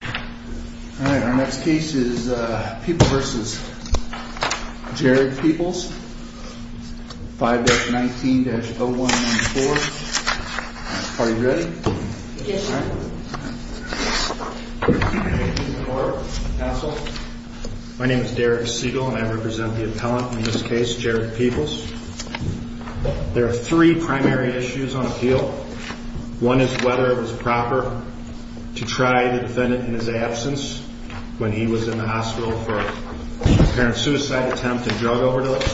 All right, our next case is People v. Jared Peoples, 5-19-0194. Are you ready? Yes, sir. My name is Derek Siegel and I represent the appellant in this case, Jared Peoples. There are three primary issues on appeal. One is whether it was proper to try the defendant in his absence when he was in the hospital for an apparent suicide attempt and drug overdose.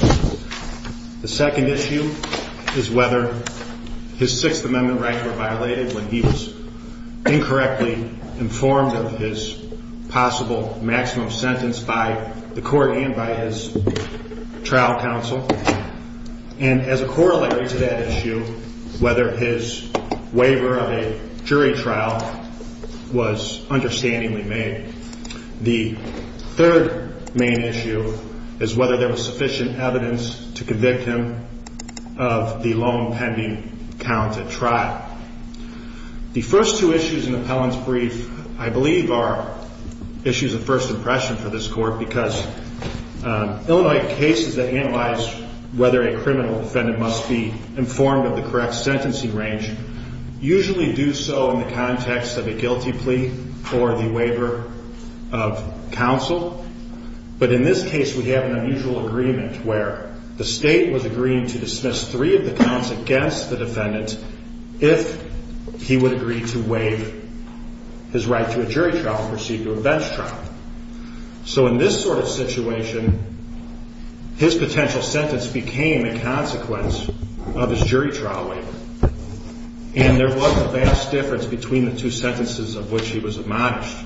The second issue is whether his Sixth Amendment rights were violated when he was incorrectly informed of his possible maximum sentence by the court and by his trial counsel. And as a corollary to that issue, whether his waiver of a jury trial was understandingly made. The third main issue is whether there was sufficient evidence to convict him of the loan pending count at trial. The first two issues in the appellant's brief, I believe, are issues of first impression for this court because Illinois cases that analyze whether a criminal defendant must be informed of the correct sentencing range usually do so in the context of a guilty plea or the waiver of counsel. But in this case we have an unusual agreement where the state was agreeing to dismiss three of the counts against the defendant if he would agree to waive his right to a jury trial and proceed to a bench trial. So in this sort of situation, his potential sentence became a consequence of his jury trial waiver. And there was a vast difference between the two sentences of which he was admonished.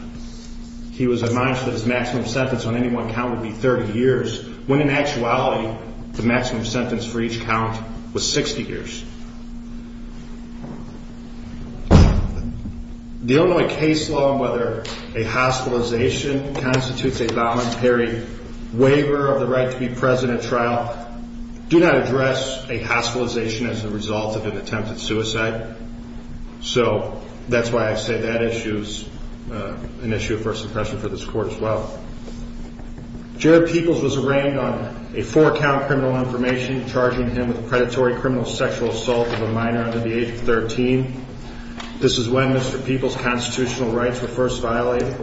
He was admonished that his maximum sentence on any one count would be 30 years when in actuality the maximum sentence for each count was 60 years. The Illinois case law on whether a hospitalization constitutes a voluntary waiver of the right to be present at trial do not address a hospitalization as a result of an attempted suicide. So that's why I say that issue is an issue of first impression for this court as well. Jared Peoples was arraigned on a four-count criminal information, charging him with predatory criminal sexual assault of a minor under the age of 13. This is when Mr. Peoples' constitutional rights were first violated.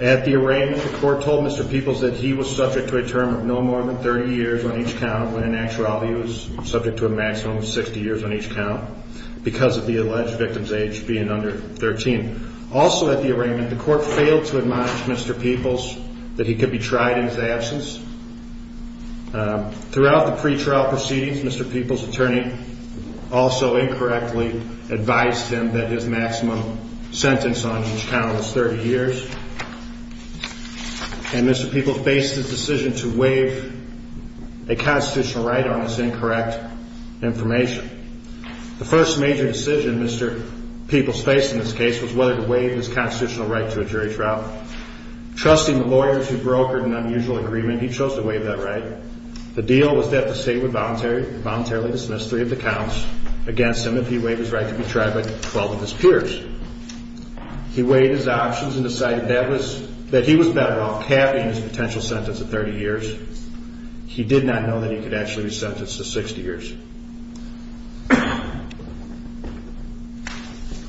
At the arraignment, the court told Mr. Peoples that he was subject to a term of no more than 30 years on each count when in actuality he was subject to a maximum of 60 years on each count because of the alleged victim's age being under 13. Also at the arraignment, the court failed to admonish Mr. Peoples that he could be tried in his absence. Throughout the pretrial proceedings, Mr. Peoples' attorney also incorrectly advised him that his maximum sentence on each count was 30 years. And Mr. Peoples faced the decision to waive a constitutional right on this incorrect information. The first major decision Mr. Peoples faced in this case was whether to waive his constitutional right to a jury trial. Trusting the lawyers who brokered an unusual agreement, he chose to waive that right. The deal was that the state would voluntarily dismiss three of the counts against him if he waived his right to be tried by 12 of his peers. He weighed his options and decided that he was better off halving his potential sentence to 30 years. He did not know that he could actually be sentenced to 60 years.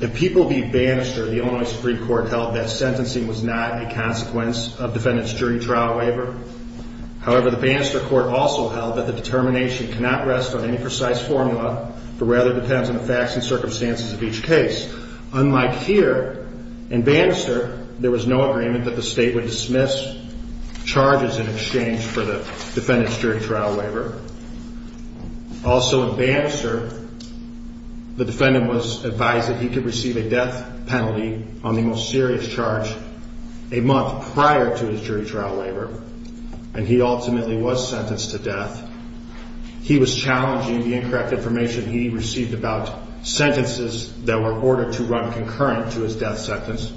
If Peoples beat Bannister, the Illinois Supreme Court held that sentencing was not a consequence of defendant's jury trial waiver. However, the Bannister Court also held that the determination cannot rest on any precise formula but rather depends on the facts and circumstances of each case. Unlike here, in Bannister, there was no agreement that the state would dismiss charges in exchange for the defendant's jury trial waiver. Also in Bannister, the defendant was advised that he could receive a death penalty on the most serious charge a month prior to his jury trial waiver. And he ultimately was sentenced to death. He was challenging the incorrect information he received about sentences that were ordered to run concurrent to his death sentence.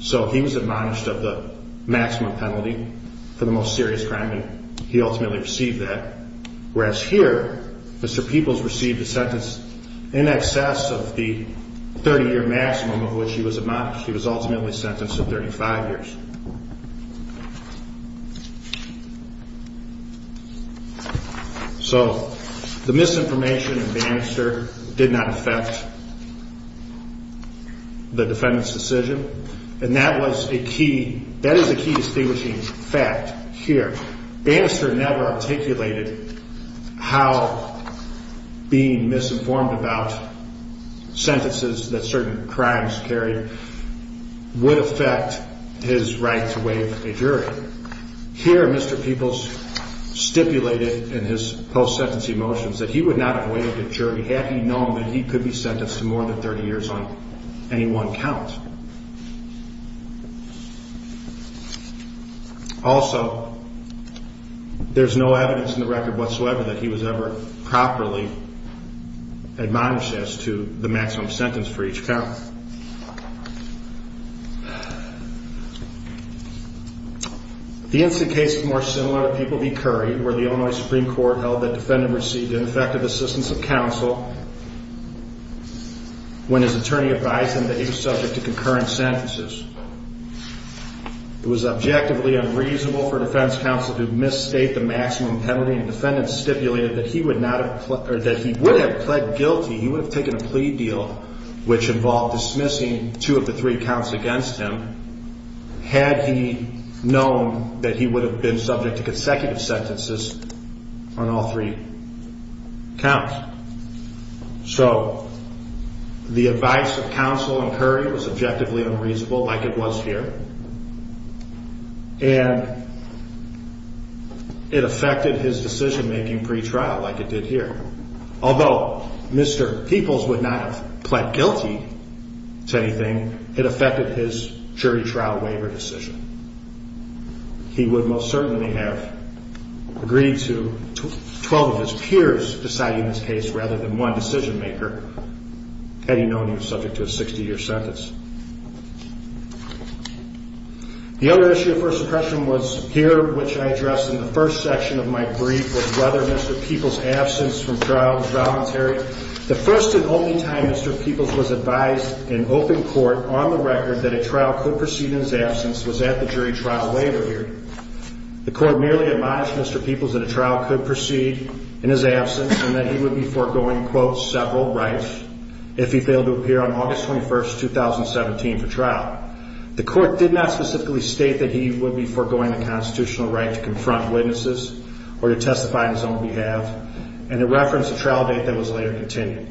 So he was admonished of the maximum penalty for the most serious crime, and he ultimately received that. Whereas here, Mr. Peoples received a sentence in excess of the 30-year maximum of which he was admonished. He was ultimately sentenced to 35 years. So the misinformation in Bannister did not affect the defendant's decision, and that is a key distinguishing fact here. Bannister never articulated how being misinformed about sentences that certain crimes carried would affect his right to waive a jury. Here, Mr. Peoples stipulated in his post-sentence emotions that he would not have waived a jury had he known that he could be sentenced to more than 30 years on any one count. Also, there's no evidence in the record whatsoever that he was ever properly admonished as to the maximum sentence for each count. The incident case is more similar to Peoples v. Curry, where the Illinois Supreme Court held that the defendant received ineffective assistance of counsel when his attorney advised him that he was subject to concurrent sentences. It was objectively unreasonable for defense counsel to misstate the maximum penalty, and the defendant stipulated that he would have pled guilty. He would have taken a plea deal, which involved dismissing two of the three counts against him, had he known that he would have been subject to consecutive sentences on all three counts. So the advice of counsel in Curry was objectively unreasonable, like it was here, and it affected his decision-making pretrial, like it did here. Although Mr. Peoples would not have pled guilty to anything, it affected his jury trial waiver decision. He would most certainly have agreed to 12 of his peers deciding his case rather than one decision-maker, had he known he was subject to a 60-year sentence. The other issue of first impression was here, which I addressed in the first section of my brief, was whether Mr. Peoples' absence from trial was voluntary. The first and only time Mr. Peoples was advised in open court on the record that a trial could proceed in his absence was at the jury trial waiver hearing. The court merely admonished Mr. Peoples that a trial could proceed in his absence and that he would be foregoing, quote, several rights if he failed to appear on August 21, 2017 for trial. The court did not specifically state that he would be foregoing the constitutional right to confront witnesses or to testify on his own behalf, and it referenced a trial date that was later continued.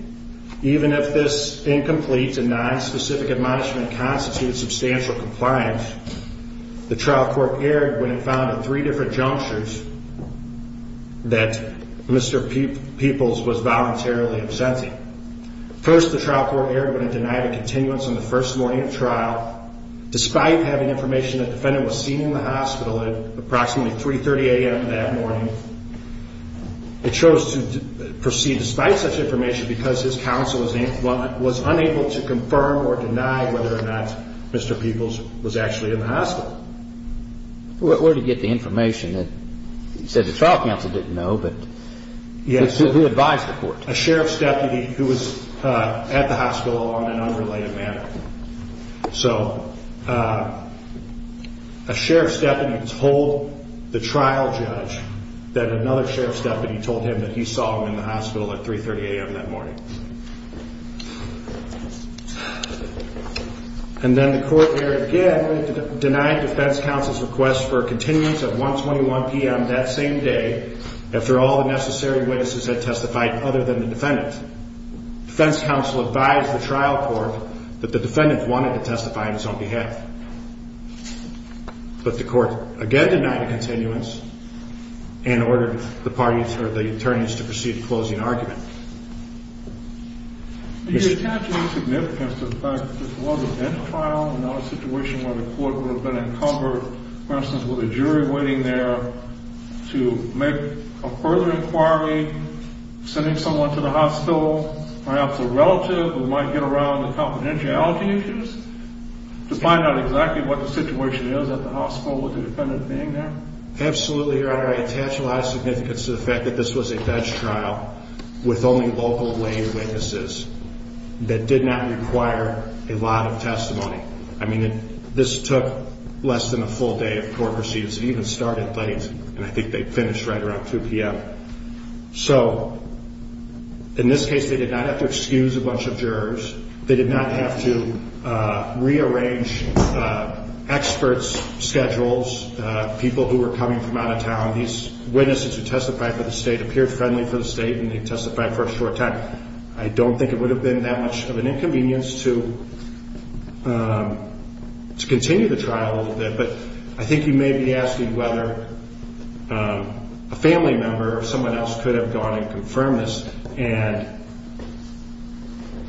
Even if this incomplete and nonspecific admonishment constitutes substantial compliance, the trial court erred when it found at three different junctures that Mr. Peoples was voluntarily absenting. First, the trial court erred when it denied a continuance on the first morning of trial, despite having information that the defendant was seen in the hospital at approximately 3.30 a.m. that morning. It chose to proceed despite such information because his counsel was unable to confirm or deny whether or not Mr. Peoples was actually in the hospital. Where did he get the information? He said the trial counsel didn't know, but who advised the court? A sheriff's deputy who was at the hospital on an unrelated matter. So a sheriff's deputy told the trial judge that another sheriff's deputy told him that he saw him in the hospital at 3.30 a.m. that morning. And then the court erred again when it denied defense counsel's request for a continuance at 1.21 p.m. that same day after all the necessary witnesses had testified other than the defendant. Defense counsel advised the trial court that the defendant wanted to testify on his own behalf. But the court again denied a continuance and ordered the attorneys to proceed to closing argument. Do you attach any significance to the fact that this was a bench trial and not a situation where the court would have been encumbered, for instance, with a jury waiting there to make a further inquiry, sending someone to the hospital, perhaps a relative who might get around the confidentiality issues, to find out exactly what the situation is at the hospital with the defendant being there? Absolutely, Your Honor. I attach a lot of significance to the fact that this was a bench trial with only local lay witnesses that did not require a lot of testimony. I mean, this took less than a full day of court proceedings. It even started late, and I think they finished right around 2 p.m. So in this case, they did not have to excuse a bunch of jurors. They did not have to rearrange experts' schedules, people who were coming from out of town. These witnesses who testified for the state appeared friendly for the state, and they testified for a short time. I don't think it would have been that much of an inconvenience to continue the trial a little bit, but I think you may be asking whether a family member or someone else could have gone and confirmed this, and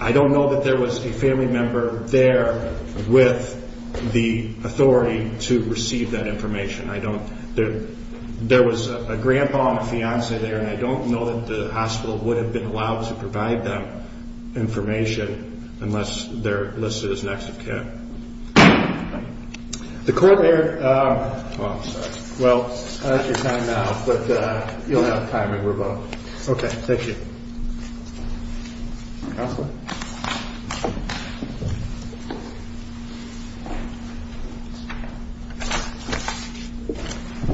I don't know that there was a family member there with the authority to receive that information. There was a grandpa and a fiancée there, and I don't know that the hospital would have been allowed to provide them information unless they're listed as an active care.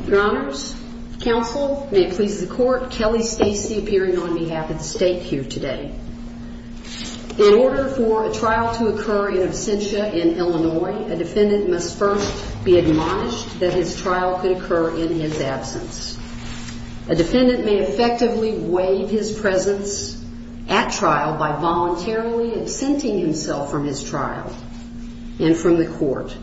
Your Honors, counsel, may it please the court, Kelly Stacey appearing on behalf of the state here today. In order for a trial to occur in absentia in evidence of a crime, the court has decided that the defendant is to appear in absentia. A defendant must first be admonished that his trial could occur in his absence. A defendant may effectively waive his presence at trial by voluntarily absenting himself from his trial and from the court.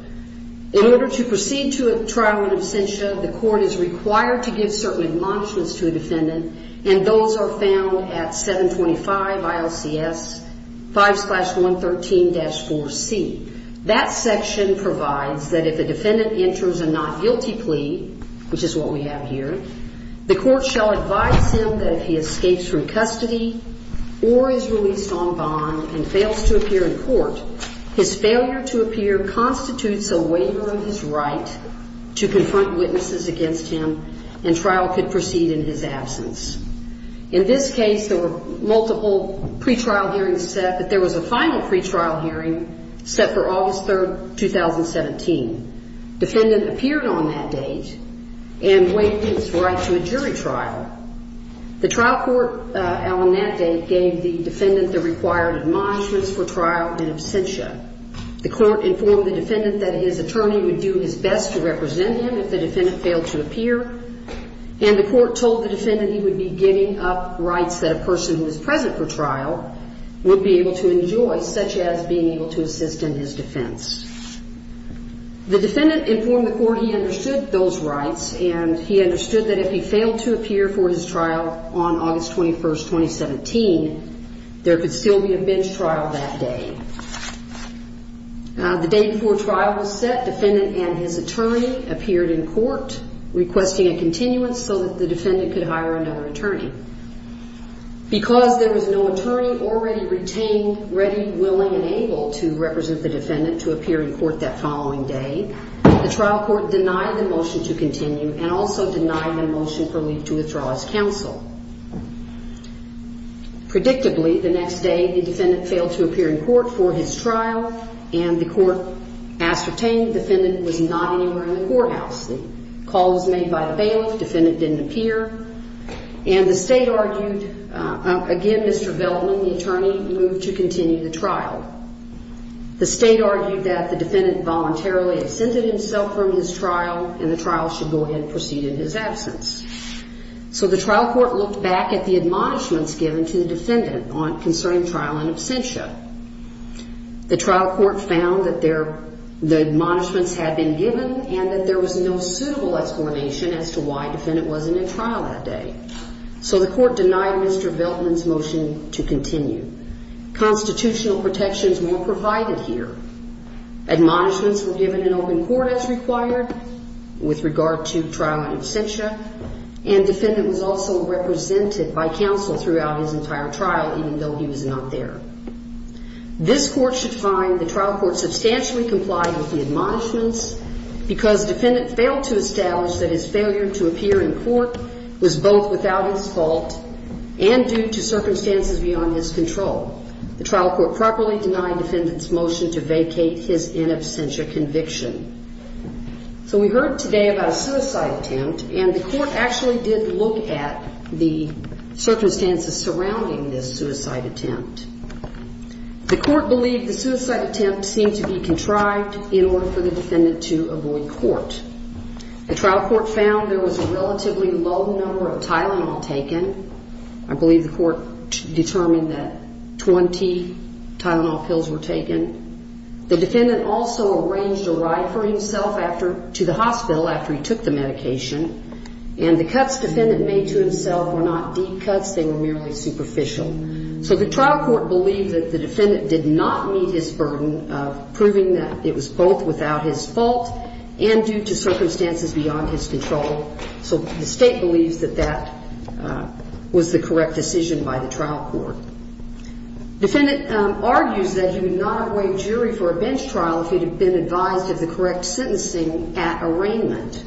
In order to proceed to a trial in absentia, the court is required to give certain admonishments to a defendant, and those are found at 725 ILCS 5-113-4C. That section provides that if a defendant enters a not guilty plea, which is what we have here, the court shall advise him that if he escapes from custody or is released on bond and fails to appear in court, his failure to appear constitutes a waiver of his right to confront witnesses against him and trial could proceed in his absence. In this case, there were multiple pretrial hearings set, but there was a final pretrial hearing set for August 3, 2017. Defendant appeared on that date and waived his right to a jury trial. The trial court on that date gave the defendant the required admonishments for trial in absentia. The court informed the defendant that his attorney would do his best to represent him if the defendant failed to appear, and the court told the defendant he would be giving up rights that a person who is present for trial would be able to enjoy, such as being able to assist in his defense. The defendant informed the court he understood those rights, and he understood that if he failed to appear for his trial on August 21, 2017, there could still be a bench trial that day. The day before trial was set, defendant and his attorney appeared in court requesting a continuance so that the defendant could hire another attorney. Because there was no attorney already retained ready, willing, and able to represent the defendant to appear in court that following day, the trial court denied the motion to continue and also denied the motion for leave to withdraw as counsel. Predictably, the next day, the defendant failed to appear in court for his trial, and the court ascertained the defendant was not anywhere in the courthouse. The call was made by a bailiff. Defendant didn't appear. And the State argued, again, Mr. Veldman, the attorney, moved to continue the trial. The State argued that the defendant voluntarily absented himself from his trial, and the trial should go ahead and proceed in his absence. So the trial court looked back at the admonishments given to the defendant concerning trial in absentia. The trial court found that the admonishments had been given and that there was no suitable explanation as to why defendant wasn't in trial that day. So the court denied Mr. Veldman's motion to continue. Constitutional protections were provided here. Admonishments were given in open court as required with regard to trial in absentia, and defendant was also represented by counsel throughout his entire trial, even though he was not there. This court should find the trial court substantially complied with the admonishments because defendant failed to establish that his failure to appear in court was both without his fault and due to circumstances beyond his control. The trial court properly denied defendant's motion to vacate his in absentia conviction. So we heard today about a suicide attempt, and the court actually did look at the circumstances surrounding this suicide attempt. The court believed the suicide attempt seemed to be contrived in order for the defendant to avoid court. The trial court found there was a relatively low number of Tylenol taken. I believe the court determined that 20 Tylenol pills were taken. The defendant also arranged a ride for himself to the hospital after he took the medication, and the cuts defendant made to himself were not deep cuts. They were merely superficial. So the trial court believed that the defendant did not meet his burden of proving that it was both without his fault and due to circumstances beyond his control. So the state believes that that was the correct decision by the trial court. Defendant argues that he would not have waived jury for a bench trial if he had been advised of the correct sentencing at arraignment.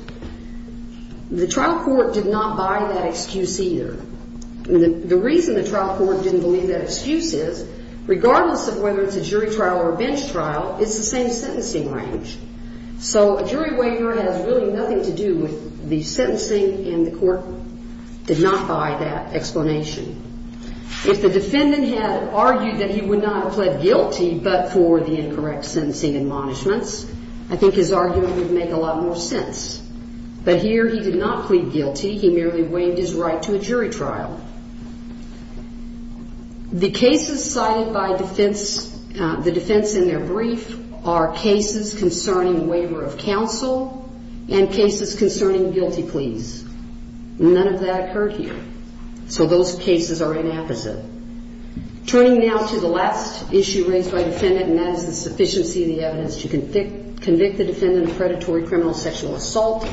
The trial court did not buy that excuse either. The reason the trial court didn't believe that excuse is regardless of whether it's a jury trial or a bench trial, it's the same sentencing range. So a jury waiver has really nothing to do with the sentencing, and the court did not buy that explanation. If the defendant had argued that he would not have pled guilty but for the incorrect sentencing admonishments, I think his argument would make a lot more sense. But here he did not plead guilty. He merely waived his right to a jury trial. The cases cited by defense, the defense in their brief, are cases concerning waiver of counsel and cases concerning guilty pleas. None of that occurred here. So those cases are inapposite. Turning now to the last issue raised by the defendant, and that is the sufficiency of the evidence to convict the defendant of predatory criminal sexual assault.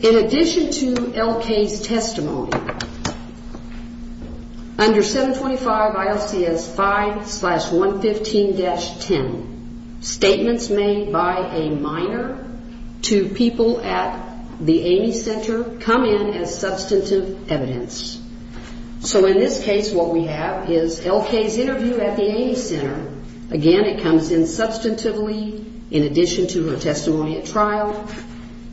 In addition to L.K.'s testimony, under 725 ILCS 5-115-10, statements made by a minor to people at the Amy Center come in as substantive evidence. So in this case, what we have is L.K.'s interview at the Amy Center. Again, it comes in substantively in addition to her testimony at trial.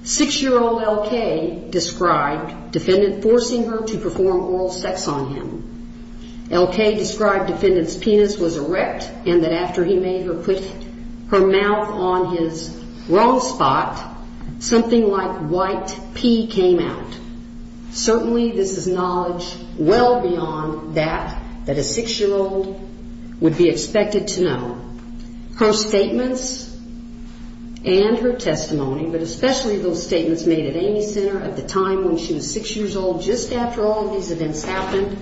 Six-year-old L.K. described defendant forcing her to perform oral sex on him. L.K. described defendant's penis was erect and that after he made her put her mouth on his wrong spot, something like white pee came out. Certainly, this is knowledge well beyond that that a six-year-old would be expected to know. Her statements and her testimony, but especially those statements made at Amy Center at the time when she was six years old, just after all of these events happened,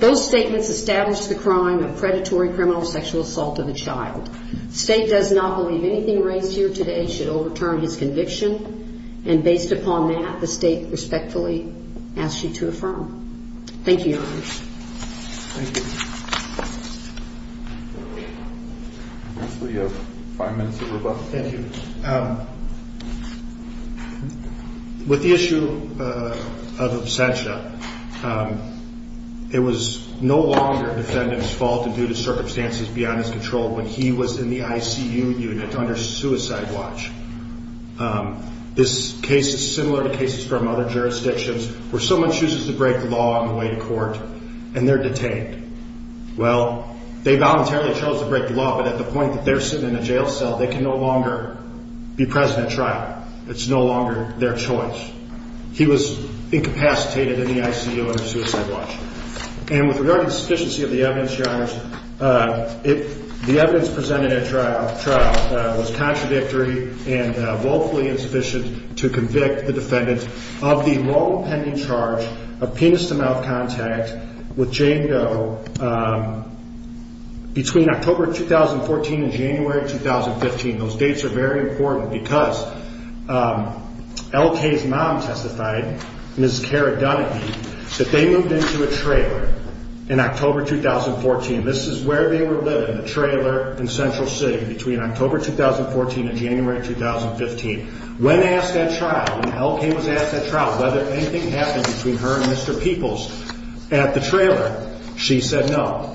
those statements established the crime of predatory criminal sexual assault of a child. The state does not believe anything raised here today should overturn his conviction. And based upon that, the state respectfully asks you to affirm. Thank you, Your Honor. Thank you. Counsel, you have five minutes to rebut. Thank you. With the issue of absentia, it was no longer defendant's fault and due to circumstances beyond his control when he was in the ICU unit under suicide watch. This case is similar to cases from other jurisdictions where someone chooses to break the law on the way to court and they're detained. Well, they voluntarily chose to break the law, but at the point that they're sitting in a jail cell, they can no longer be present at trial. It's no longer their choice. He was incapacitated in the ICU under suicide watch. And with regard to the sufficiency of the evidence, Your Honors, the evidence presented at trial was contradictory and woefully insufficient to convict the defendant of the wrong pending charge of penis to mouth contact with Jane Doe between October 2014 and January 2015. Those dates are very important because L.K.'s mom testified, Ms. Cara Dunneke, that they moved into a trailer in October 2014. This is where they were living, the trailer in Central City between October 2014 and January 2015. When asked at trial, when L.K. was asked at trial whether anything happened between her and Mr. Peoples at the trailer, she said no.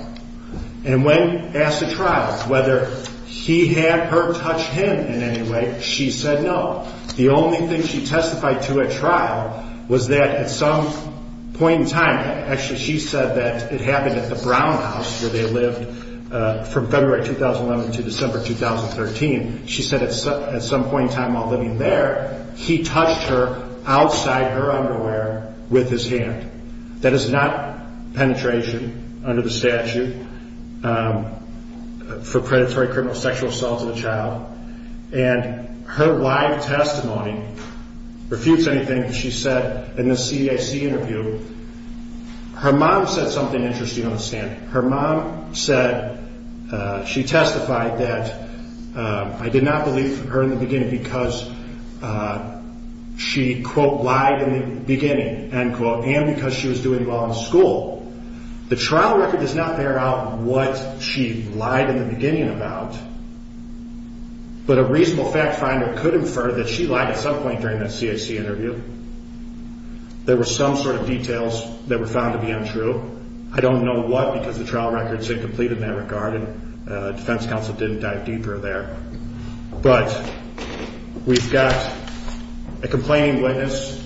And when asked at trial whether he had her touch him in any way, she said no. The only thing she testified to at trial was that at some point in time, actually she said that it happened at the Brown House where they lived from February 2011 to December 2013. She said at some point in time while living there, he touched her outside her underwear with his hand. That is not penetration under the statute for predatory criminal sexual assault of a child. And her live testimony refutes anything she said in the CAC interview. Her mom said something interesting on the stand. Her mom said she testified that I did not believe her in the beginning because she, quote, lied in the beginning, end quote, and because she was doing well in school. The trial record does not bear out what she lied in the beginning about, but a reasonable fact finder could infer that she lied at some point during the CAC interview. There were some sort of details that were found to be untrue. I don't know what because the trial record is incomplete in that regard and defense counsel didn't dive deeper there. But we've got a complaining witness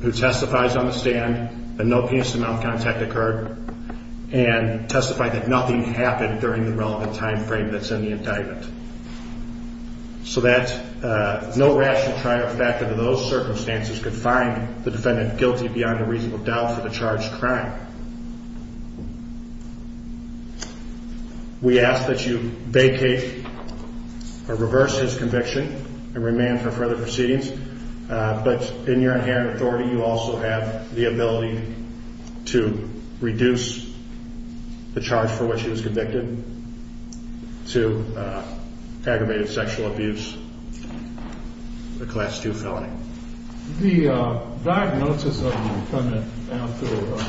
who testifies on the stand that no penis to mouth contact occurred and testified that nothing happened during the relevant time frame that's in the indictment. So that no rational trial factor to those circumstances could find the defendant guilty beyond a reasonable doubt for the charged crime. We ask that you vacate or reverse his conviction and remand for further proceedings. But in your inherent authority, you also have the ability to reduce the charge for which he was convicted to aggravated sexual abuse, a class two felony. The diagnosis of the defendant after the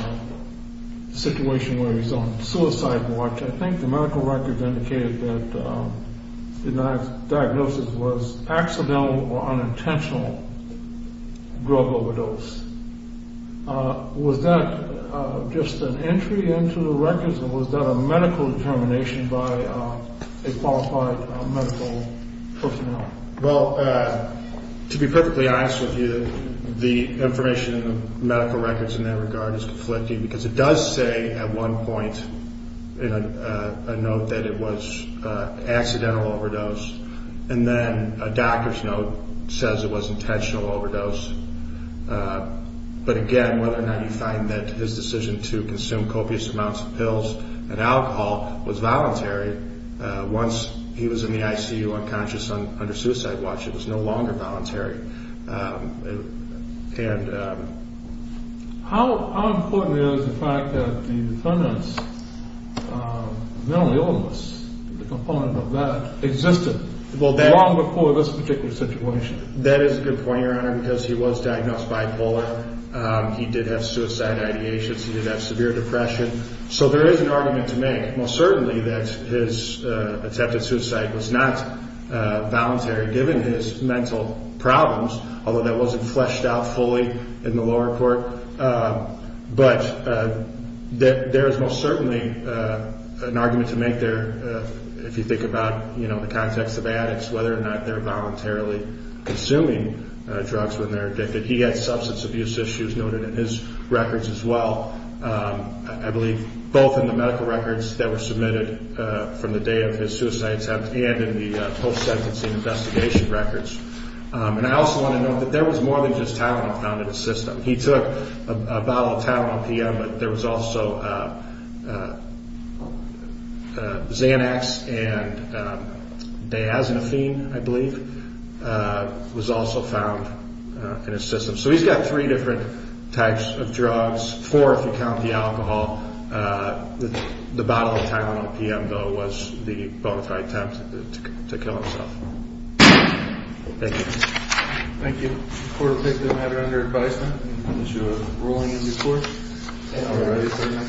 situation where he's on suicide watch, I think the medical records indicated that the diagnosis was accidental or unintentional drug overdose. Was that just an entry into the records or was that a medical determination by a qualified medical personnel? Well, to be perfectly honest with you, the information in the medical records in that regard is conflicting because it does say at one point in a note that it was accidental overdose. And then a doctor's note says it was intentional overdose. But again, whether or not you find that his decision to consume copious amounts of pills and alcohol was voluntary once he was in the ICU unconscious under suicide watch, it was no longer voluntary. And how important is the fact that the defendant's mental illness, the component of that existed long before this particular situation? That is a good point, Your Honor, because he was diagnosed bipolar. He did have suicide ideations. He did have severe depression. So there is an argument to make, most certainly, that his attempted suicide was not voluntary given his mental problems, although that wasn't fleshed out fully in the lower court. But there is most certainly an argument to make there if you think about the context of addicts, whether or not they're voluntarily consuming drugs when they're addicted. He had substance abuse issues noted in his records as well, I believe, both in the medical records that were submitted from the day of his suicide attempt and in the post-sentencing investigation records. And I also want to note that there was more than just Tylenol found in his system. He took a bottle of Tylenol PM, but there was also Xanax and Diazepam, I believe, was also found in his system. So he's got three different types of drugs, four if you count the alcohol. The bottle of Tylenol PM, though, was the voluntary attempt to kill himself. Thank you. Thank you. The court will take the matter under advisement on the issue of ruling in due course. All right.